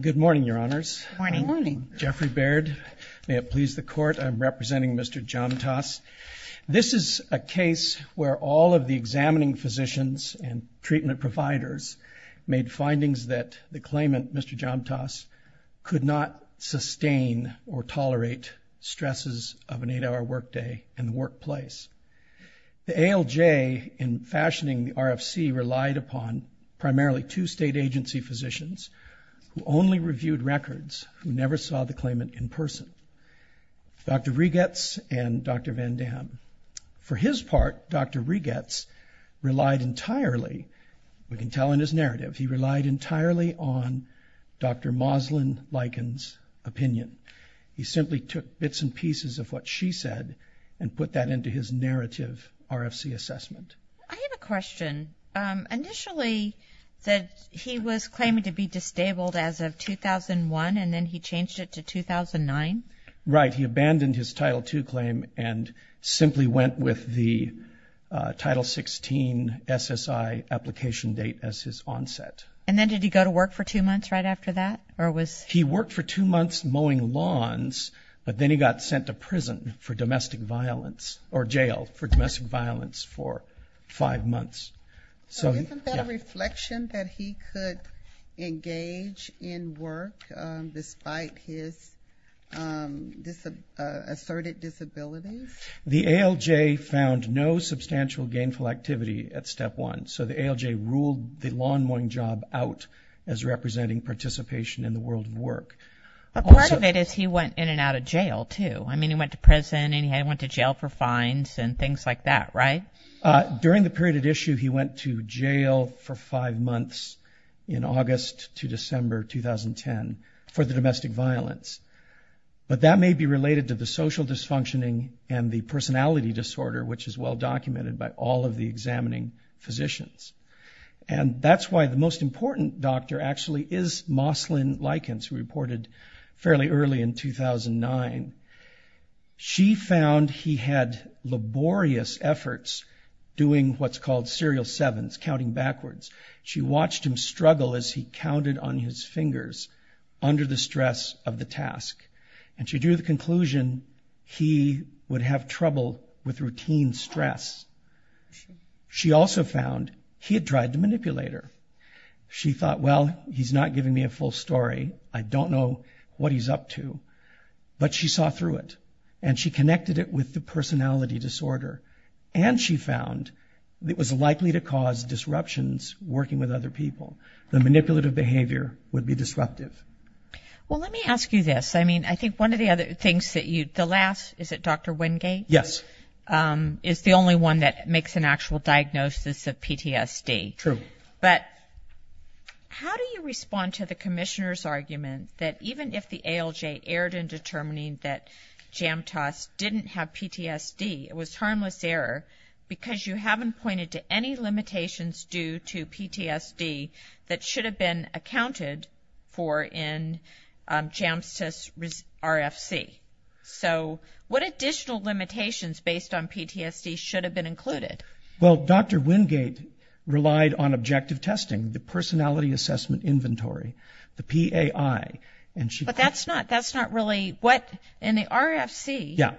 Good morning, Your Honors. Good morning. I'm Jeffrey Baird. May it please the Court, I'm representing Mr. Jamtaas. This is a case where all of the examining physicians and treatment providers made findings that the claimant, Mr. Jamtaas, could not sustain or tolerate stresses of an eight-hour workday in the workplace. The ALJ, in fashioning the RFC, relied upon primarily two state agency physicians who only reviewed records, who never saw the claimant in person, Dr. Reigetz and Dr. Van Dam. For his part, Dr. Reigetz relied entirely, we can tell in his narrative, he relied entirely on Dr. Moslyn Likens' opinion. He simply took bits and pieces of what she said and put that into his narrative RFC assessment. I have a question. Initially, he was claiming to be disabled as of 2001, and then he changed it to 2009? Right. He abandoned his Title II claim and simply went with the Title XVI SSI application date as his onset. And then did he go to work for two months right after that? He worked for two months mowing lawns, but then he got sent to prison for domestic violence, or jail for domestic violence for five months. So isn't that a reflection that he could engage in work despite his asserted disabilities? The ALJ found no substantial gainful activity at Step 1, so the ALJ ruled the lawn mowing job out as representing participation in the world of work. But part of it is he went in and out of jail, too. I mean, he went to prison and he went to jail for fines and things like that, right? During the period at issue, he went to jail for five months in August to December 2010 for the domestic violence. But that may be related to the social dysfunctioning and the personality disorder, which is well-documented by all of the examining physicians. And that's why the most important doctor actually is Moslyn Likens, who reported fairly early in 2009. She found he had laborious efforts doing what's called serial sevens, counting backwards. She watched him struggle as he counted on his fingers under the stress of the task. And she drew the conclusion he would have trouble with routine stress. She also found he had tried to manipulate her. She thought, well, he's not giving me a full story. I don't know what he's up to. But she saw through it, and she connected it with the personality disorder. And she found it was likely to cause disruptions working with other people. The manipulative behavior would be disruptive. Well, let me ask you this. I mean, I think one of the other things that you – the last – is it Dr. Wingate? Yes. Is the only one that makes an actual diagnosis of PTSD. True. But how do you respond to the commissioner's argument that even if the ALJ erred in determining that Jamtas didn't have PTSD, it was harmless error because you haven't pointed to any limitations due to PTSD that should have been accounted for in Jamtas' RFC. So what additional limitations based on PTSD should have been included? Well, Dr. Wingate relied on objective testing, the personality assessment inventory, the PAI. But that's not really what – in the RFC. Yeah.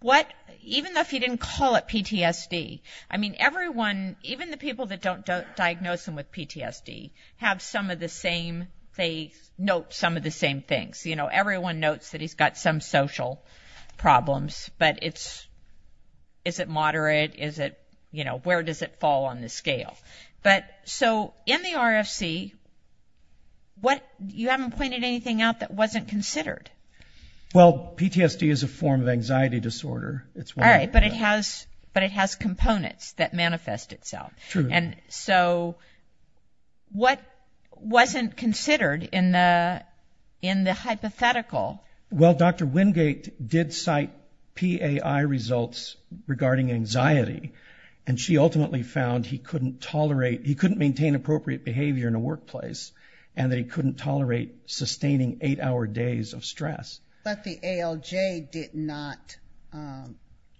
What – even if he didn't call it PTSD. I mean, everyone – even the people that don't diagnose him with PTSD have some of the same – they note some of the same things. You know, everyone notes that he's got some social problems. But it's – is it moderate? Is it – you know, where does it fall on the scale? But so in the RFC, what – you haven't pointed anything out that wasn't considered. Well, PTSD is a form of anxiety disorder. All right, but it has components that manifest itself. True. And so what wasn't considered in the hypothetical? Well, Dr. Wingate did cite PAI results regarding anxiety, and she ultimately found he couldn't tolerate – he couldn't maintain appropriate behavior in a workplace and that he couldn't tolerate sustaining eight-hour days of stress. But the ALJ did not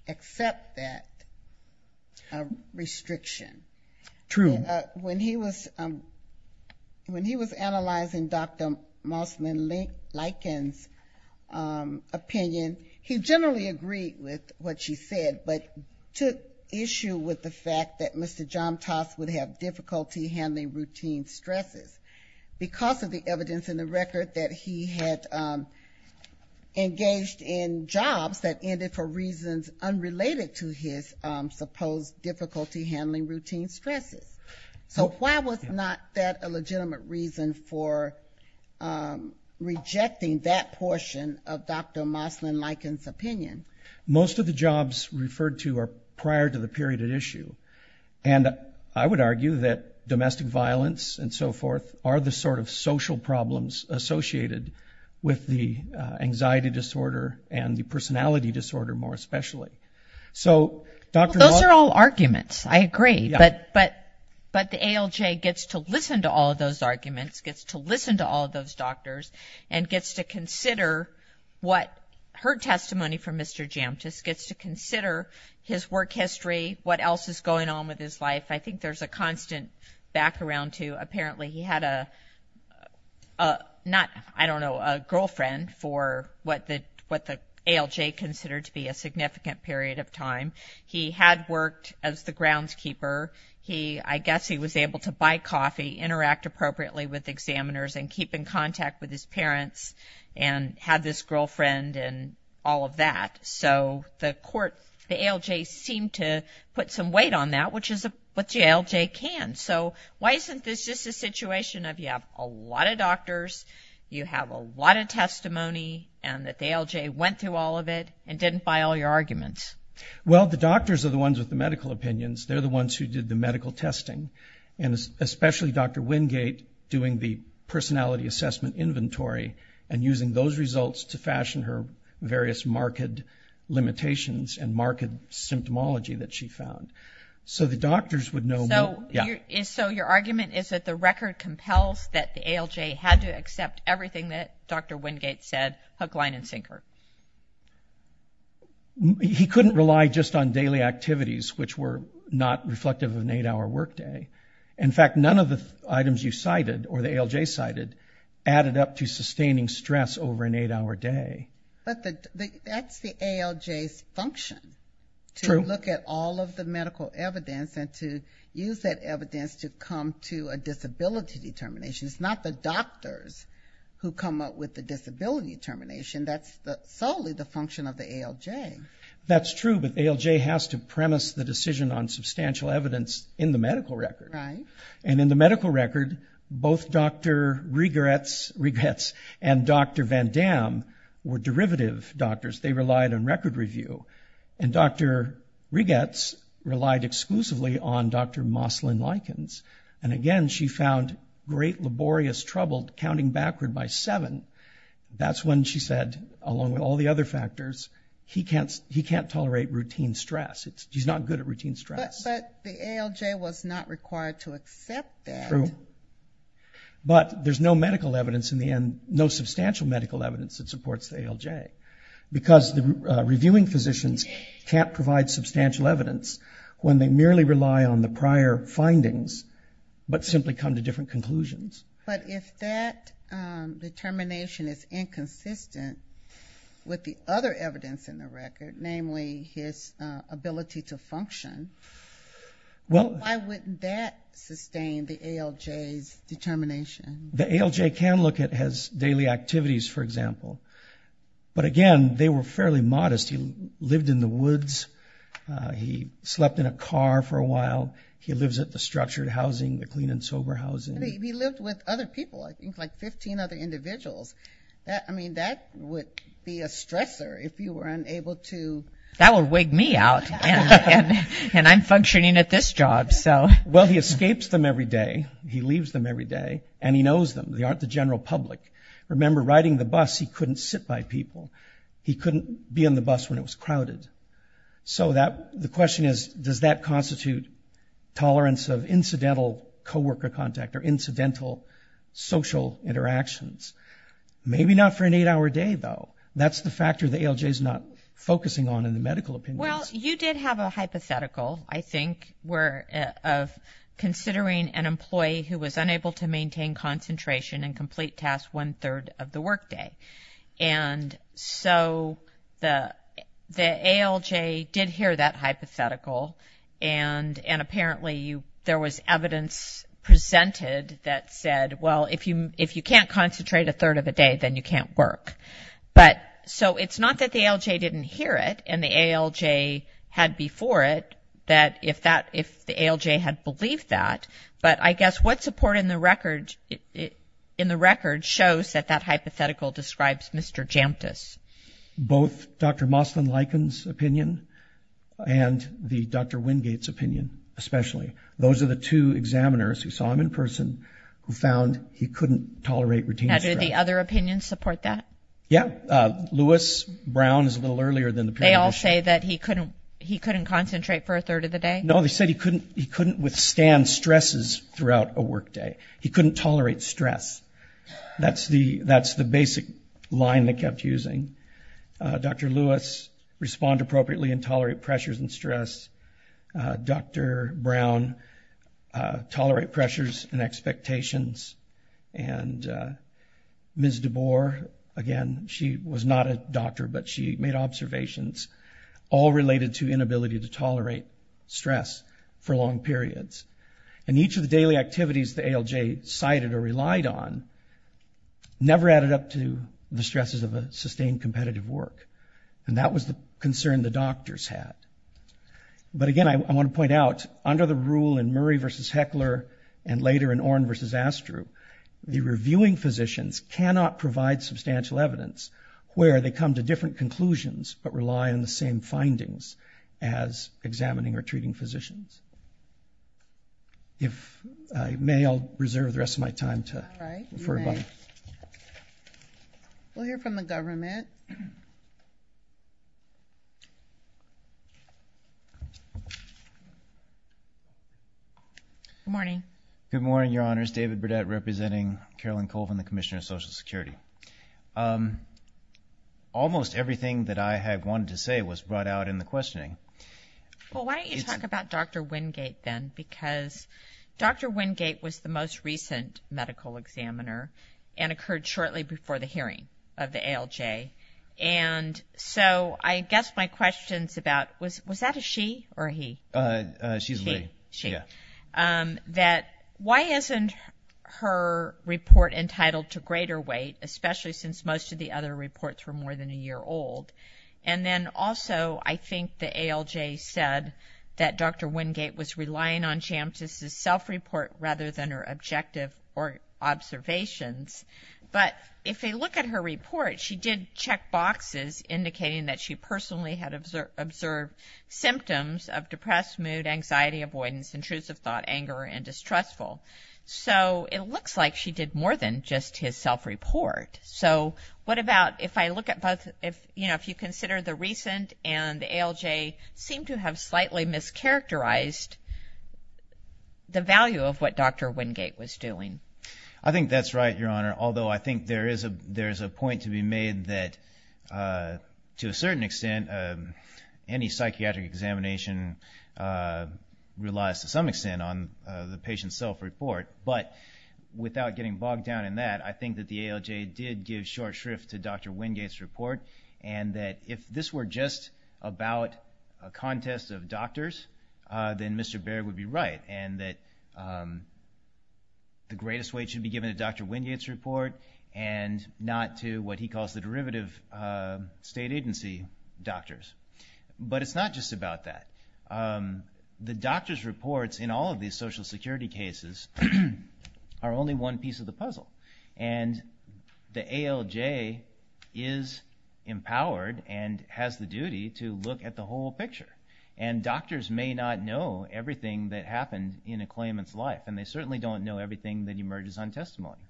accept that restriction. True. When he was analyzing Dr. Mossman-Lykins' opinion, he generally agreed with what she said but took issue with the fact that Mr. Jomtas would have difficulty handling routine stresses. Because of the evidence in the record that he had engaged in jobs that ended for reasons unrelated to his supposed difficulty handling routine stresses. So why was not that a legitimate reason for rejecting that portion of Dr. Mossman-Lykins' opinion? Most of the jobs referred to are prior to the period at issue. And I would argue that domestic violence and so forth are the sort of social problems associated with the anxiety disorder and the personality disorder more especially. Well, those are all arguments. I agree. But the ALJ gets to listen to all of those arguments, gets to listen to all of those doctors, and gets to consider what her testimony from Mr. Jomtas, gets to consider his work history, what else is going on with his life. I think there's a constant background to apparently he had a not, I don't know, a girlfriend for what the ALJ considered to be a significant period of time. He had worked as the groundskeeper. I guess he was able to buy coffee, interact appropriately with examiners, and keep in contact with his parents and had this girlfriend and all of that. So the ALJ seemed to put some weight on that, which is what the ALJ can. So why isn't this just a situation of you have a lot of doctors, you have a lot of testimony, and that the ALJ went through all of it and didn't buy all your arguments? Well, the doctors are the ones with the medical opinions. They're the ones who did the medical testing, and especially Dr. Wingate doing the personality assessment inventory and using those results to fashion her various marked limitations and marked symptomology that she found. So the doctors would know more. So your argument is that the record compels that the ALJ had to accept everything that Dr. Wingate said hook, line, and sinker. He couldn't rely just on daily activities, which were not reflective of an eight-hour workday. In fact, none of the items you cited or the ALJ cited added up to sustaining stress over an eight-hour day. But that's the ALJ's function. True. To look at all of the medical evidence and to use that evidence to come to a disability determination. It's not the doctors who come up with the disability determination. That's solely the function of the ALJ. That's true, but ALJ has to premise the decision on substantial evidence in the medical record. Right. And in the medical record, both Dr. Rigerts and Dr. Van Damme were derivative doctors. They relied on record review. And Dr. Rigerts relied exclusively on Dr. Moslin-Likens. And again, she found great laborious trouble counting backward by seven. That's when she said, along with all the other factors, he can't tolerate routine stress. He's not good at routine stress. But the ALJ was not required to accept that. True. But there's no medical evidence in the end, no substantial medical evidence that supports the ALJ, because the reviewing physicians can't provide substantial evidence when they merely rely on the prior findings but simply come to different conclusions. But if that determination is inconsistent with the other evidence in the record, namely his ability to function, why wouldn't that sustain the ALJ's determination? The ALJ can look at his daily activities, for example. But again, they were fairly modest. He lived in the woods. He slept in a car for a while. He lives at the structured housing, the clean and sober housing. He lived with other people, I think, like 15 other individuals. I mean, that would be a stressor if you were unable to. That would wig me out. And I'm functioning at this job, so. Well, he escapes them every day, he leaves them every day, and he knows them. They aren't the general public. Remember, riding the bus, he couldn't sit by people. He couldn't be on the bus when it was crowded. So the question is, does that constitute tolerance of incidental co-worker contact or incidental social interactions? Maybe not for an eight-hour day, though. That's the factor the ALJ is not focusing on in the medical opinions. Well, you did have a hypothetical, I think, of considering an employee who was unable to maintain concentration and complete tasks one-third of the workday. And so the ALJ did hear that hypothetical, and apparently there was evidence presented that said, well, if you can't concentrate a third of the day, then you can't work. So it's not that the ALJ didn't hear it, and the ALJ had before it, that if the ALJ had believed that. But I guess what support in the record shows that that hypothetical describes Mr. Jamtas? Both Dr. Moslin-Likens' opinion and the Dr. Wingate's opinion, especially. Those are the two examiners who saw him in person who found he couldn't tolerate routine stress. Now, do the other opinions support that? Yeah. Lewis Brown is a little earlier than the peer review. They all say that he couldn't concentrate for a third of the day? No, they said he couldn't withstand stresses throughout a workday. He couldn't tolerate stress. That's the basic line they kept using. Dr. Lewis, respond appropriately and tolerate pressures and stress. Dr. Brown, tolerate pressures and expectations. And Ms. DeBoer, again, she was not a doctor, but she made observations, all related to inability to tolerate stress for long periods. And each of the daily activities the ALJ cited or relied on never added up to the stresses of a sustained competitive work. And that was the concern the doctors had. But again, I want to point out, under the rule in Murray v. Heckler and later in Orne v. Astru, the reviewing physicians cannot provide substantial evidence where they come to different conclusions but rely on the same findings as examining or treating physicians. If I may, I'll reserve the rest of my time to refer back. All right. You may. We'll hear from the government. Good morning. Good morning, Your Honors. David Burdette representing Carolyn Colvin, the Commissioner of Social Security. Almost everything that I had wanted to say was brought out in the questioning. Well, why don't you talk about Dr. Wingate then? Because Dr. Wingate was the most recent medical examiner and occurred shortly before the hearing of the ALJ. And so I guess my question's about, was that a she or a he? She's a she. She. Yeah. That why isn't her report entitled to greater weight, especially since most of the other reports were more than a year old? And then also, I think the ALJ said that Dr. Wingate was relying on Jantz's self-report rather than her objective observations. But if you look at her report, she did check boxes indicating that she personally had observed symptoms of depressed mood, anxiety, avoidance, intrusive thought, anger, and distrustful. So it looks like she did more than just his self-report. So what about if I look at both, you know, if you consider the recent and the ALJ seem to have slightly mischaracterized the value of what Dr. Wingate was doing? I think that's right, Your Honor, although I think there is a point to be made that, to a certain extent, any psychiatric examination relies, to some extent, on the patient's self-report. But without getting bogged down in that, I think that the ALJ did give short shrift to Dr. Wingate's report and that if this were just about a contest of doctors, then Mr. Baird would be right and not to what he calls the derivative state agency doctors. But it's not just about that. The doctors' reports in all of these Social Security cases are only one piece of the puzzle. And the ALJ is empowered and has the duty to look at the whole picture. And doctors may not know everything that happened in a claimant's life, and they certainly don't know everything that emerges on testimony.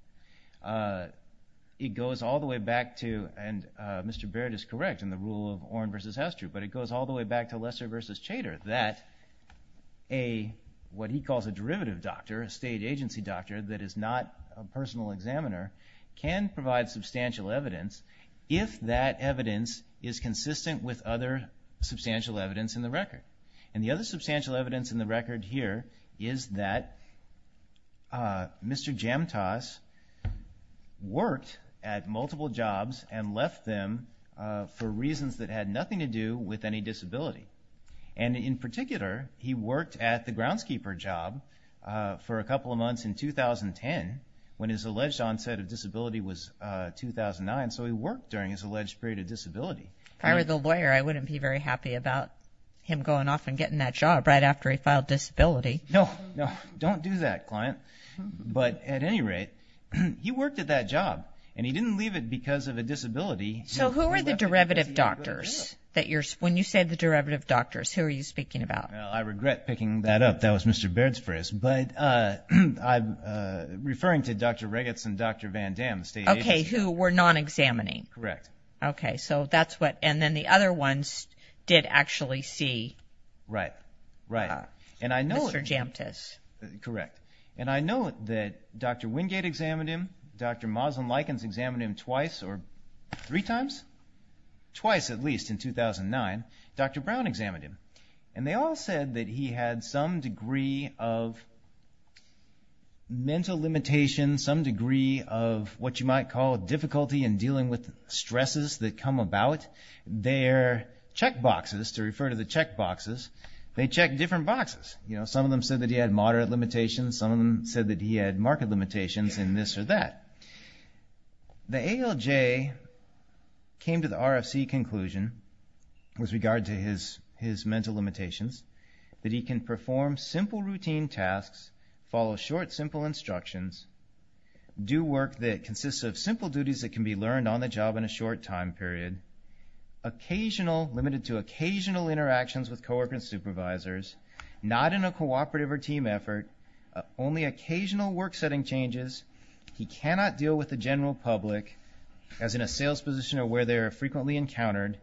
It goes all the way back to, and Mr. Baird is correct in the rule of Oren v. Hester, but it goes all the way back to Lesser v. Chater that what he calls a derivative doctor, a state agency doctor that is not a personal examiner, can provide substantial evidence if that evidence is consistent with other substantial evidence in the record. And the other substantial evidence in the record here is that Mr. Jamtas worked at multiple jobs and left them for reasons that had nothing to do with any disability. And in particular, he worked at the groundskeeper job for a couple of months in 2010 when his alleged onset of disability was 2009, so he worked during his alleged period of disability. If I were the lawyer, I wouldn't be very happy about him going off and getting that job right after he filed disability. No, no, don't do that, client. But at any rate, he worked at that job, and he didn't leave it because of a disability. So who are the derivative doctors? When you say the derivative doctors, who are you speaking about? Well, I regret picking that up. That was Mr. Baird's phrase. But I'm referring to Dr. Regetz and Dr. Van Dam, the state agency. Okay, who were non-examining. Correct. Okay, so that's what, and then the other ones did actually see Mr. Jamtas. Correct. And I know that Dr. Wingate examined him, Dr. Moslin-Likens examined him twice or three times, twice at least in 2009. Dr. Brown examined him. And they all said that he had some degree of mental limitation, some degree of what you might call difficulty in dealing with stresses that come about. Their checkboxes, to refer to the checkboxes, they checked different boxes. Some of them said that he had moderate limitations. Some of them said that he had marked limitations in this or that. The ALJ came to the RFC conclusion with regard to his mental limitations that he can perform simple routine tasks, follow short, simple instructions, do work that consists of simple duties that can be learned on the job in a short time period, limited to occasional interactions with co-workers and supervisors, not in a cooperative or team effort, only occasional work setting changes, he cannot deal with the general public as in a sales position or where they are frequently encountered,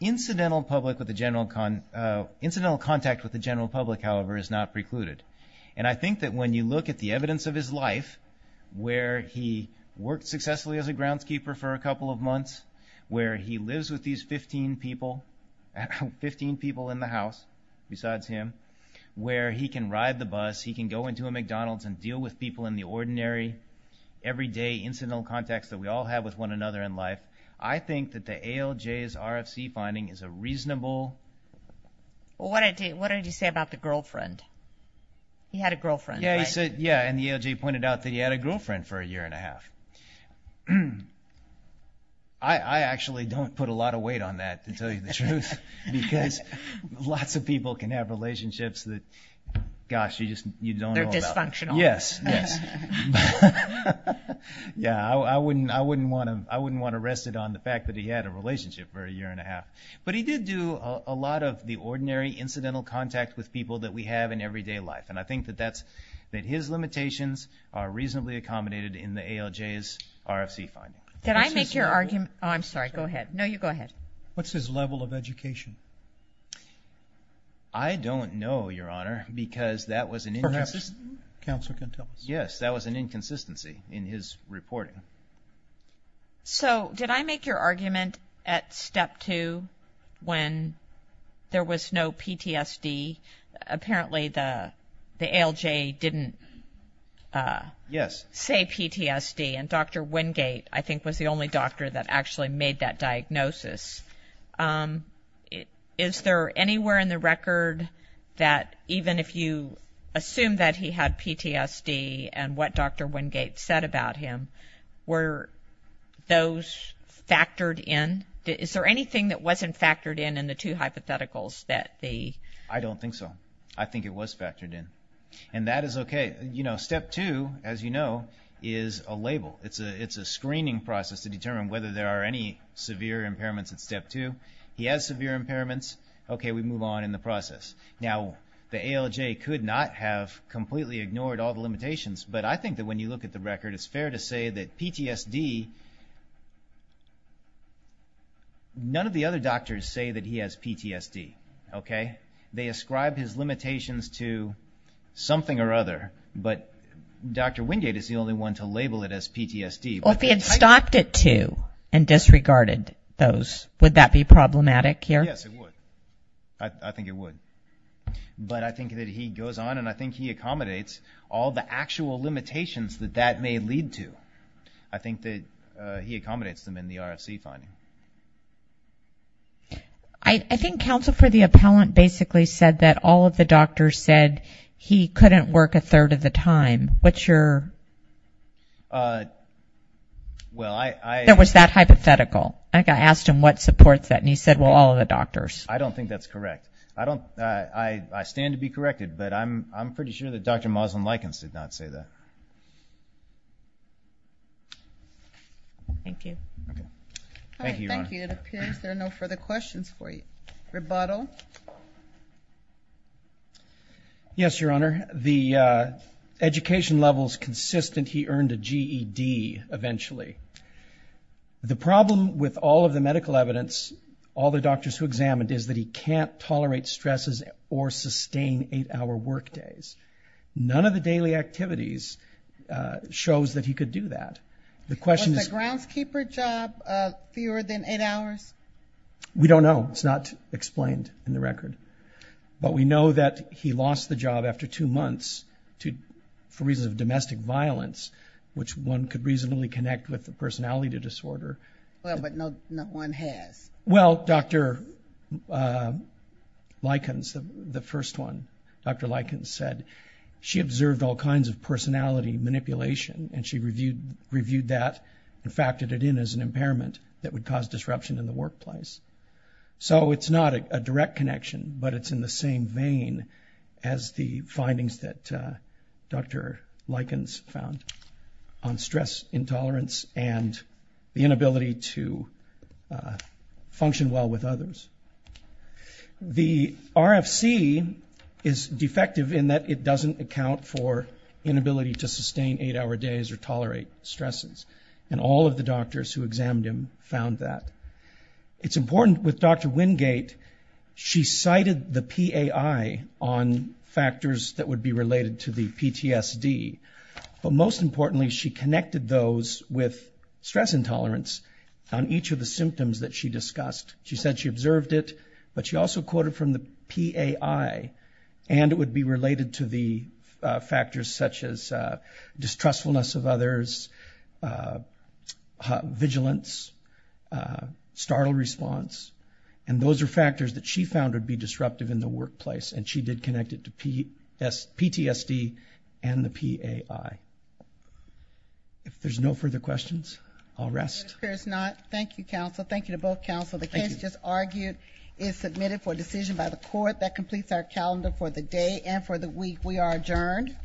incidental contact with the general public, however, is not precluded. And I think that when you look at the evidence of his life, where he worked successfully as a groundskeeper for a couple of months, where he lives with these 15 people in the house, besides him, where he can ride the bus, he can go into a McDonald's and deal with people in the ordinary, everyday incidental contacts that we all have with one another in life, I think that the ALJ's RFC finding is a reasonable... Well, what did he say about the girlfriend? He had a girlfriend, right? Yeah, and the ALJ pointed out that he had a girlfriend for a year and a half. I actually don't put a lot of weight on that, to tell you the truth, because lots of people can have relationships that, gosh, you just don't know about. They're dysfunctional. Yes, yes. Yeah, I wouldn't want to rest it on the fact that he had a relationship for a year and a half. But he did do a lot of the ordinary incidental contact with people that we have in everyday life, and I think that his limitations are reasonably accommodated in the ALJ's RFC finding. Did I make your argument? Oh, I'm sorry. Go ahead. No, you go ahead. What's his level of education? I don't know, Your Honor, because that was an inconsistency. Perhaps counsel can tell us. Yes, that was an inconsistency in his reporting. So did I make your argument at Step 2 when there was no PTSD? Apparently the ALJ didn't say PTSD, and Dr. Wingate, I think, was the only doctor that actually made that diagnosis. Is there anywhere in the record that even if you assume that he had PTSD and what Dr. Wingate said about him, were those factored in? Is there anything that wasn't factored in in the two hypotheticals? I don't think so. I think it was factored in, and that is okay. Step 2, as you know, is a label. It's a screening process to determine whether there are any severe impairments at Step 2. He has severe impairments. Okay, we move on in the process. Now, the ALJ could not have completely ignored all the limitations, but I think that when you look at the record, it's fair to say that PTSD, none of the other doctors say that he has PTSD. They ascribe his limitations to something or other, but Dr. Wingate is the only one to label it as PTSD. Well, if he had stopped at two and disregarded those, would that be problematic here? Yes, it would. I think it would. But I think that he goes on, and I think he accommodates all the actual limitations that that may lead to. I think that he accommodates them in the RFC finding. I think Counsel for the Appellant basically said that all of the doctors said he couldn't work a third of the time. What's your... Well, I... It was that hypothetical. I asked him what supports that, and he said, well, all of the doctors. I don't think that's correct. I stand to be corrected, but I'm pretty sure that Dr. Moslem-Likens did not say that. Thank you. Thank you, Your Honor. Thank you. It appears there are no further questions for you. Rebuttal. Yes, Your Honor. The education level is consistent. He earned a GED eventually. The problem with all of the medical evidence, all the doctors who examined, is that he can't tolerate stresses or sustain eight-hour work days. None of the daily activities shows that he could do that. Was the groundskeeper job fewer than eight hours? We don't know. It's not explained in the record. But we know that he lost the job after two months for reasons of domestic violence, which one could reasonably connect with the personality disorder. Well, but no one has. Well, Dr. Likens, the first one, Dr. Likens said she observed all kinds of personality manipulation, and she reviewed that and factored it in as an impairment that would cause disruption in the workplace. So it's not a direct connection, but it's in the same vein as the findings that Dr. Likens found on stress intolerance and the inability to function well with others. The RFC is defective in that it doesn't account for inability to sustain eight-hour days or tolerate stresses, and all of the doctors who examined him found that. It's important with Dr. Wingate. She cited the PAI on factors that would be related to the PTSD, but most importantly she connected those with stress intolerance on each of the symptoms that she discussed. She said she observed it, but she also quoted from the PAI, and it would be related to the factors such as distrustfulness of others, vigilance, startle response, and those are factors that she found would be disruptive in the workplace, and she did connect it to PTSD and the PAI. If there's no further questions, I'll rest. There's not. Thank you, counsel. Thank you to both counsel. The case just argued is submitted for decision by the court. That completes our calendar for the day and for the week. We are adjourned. All rise.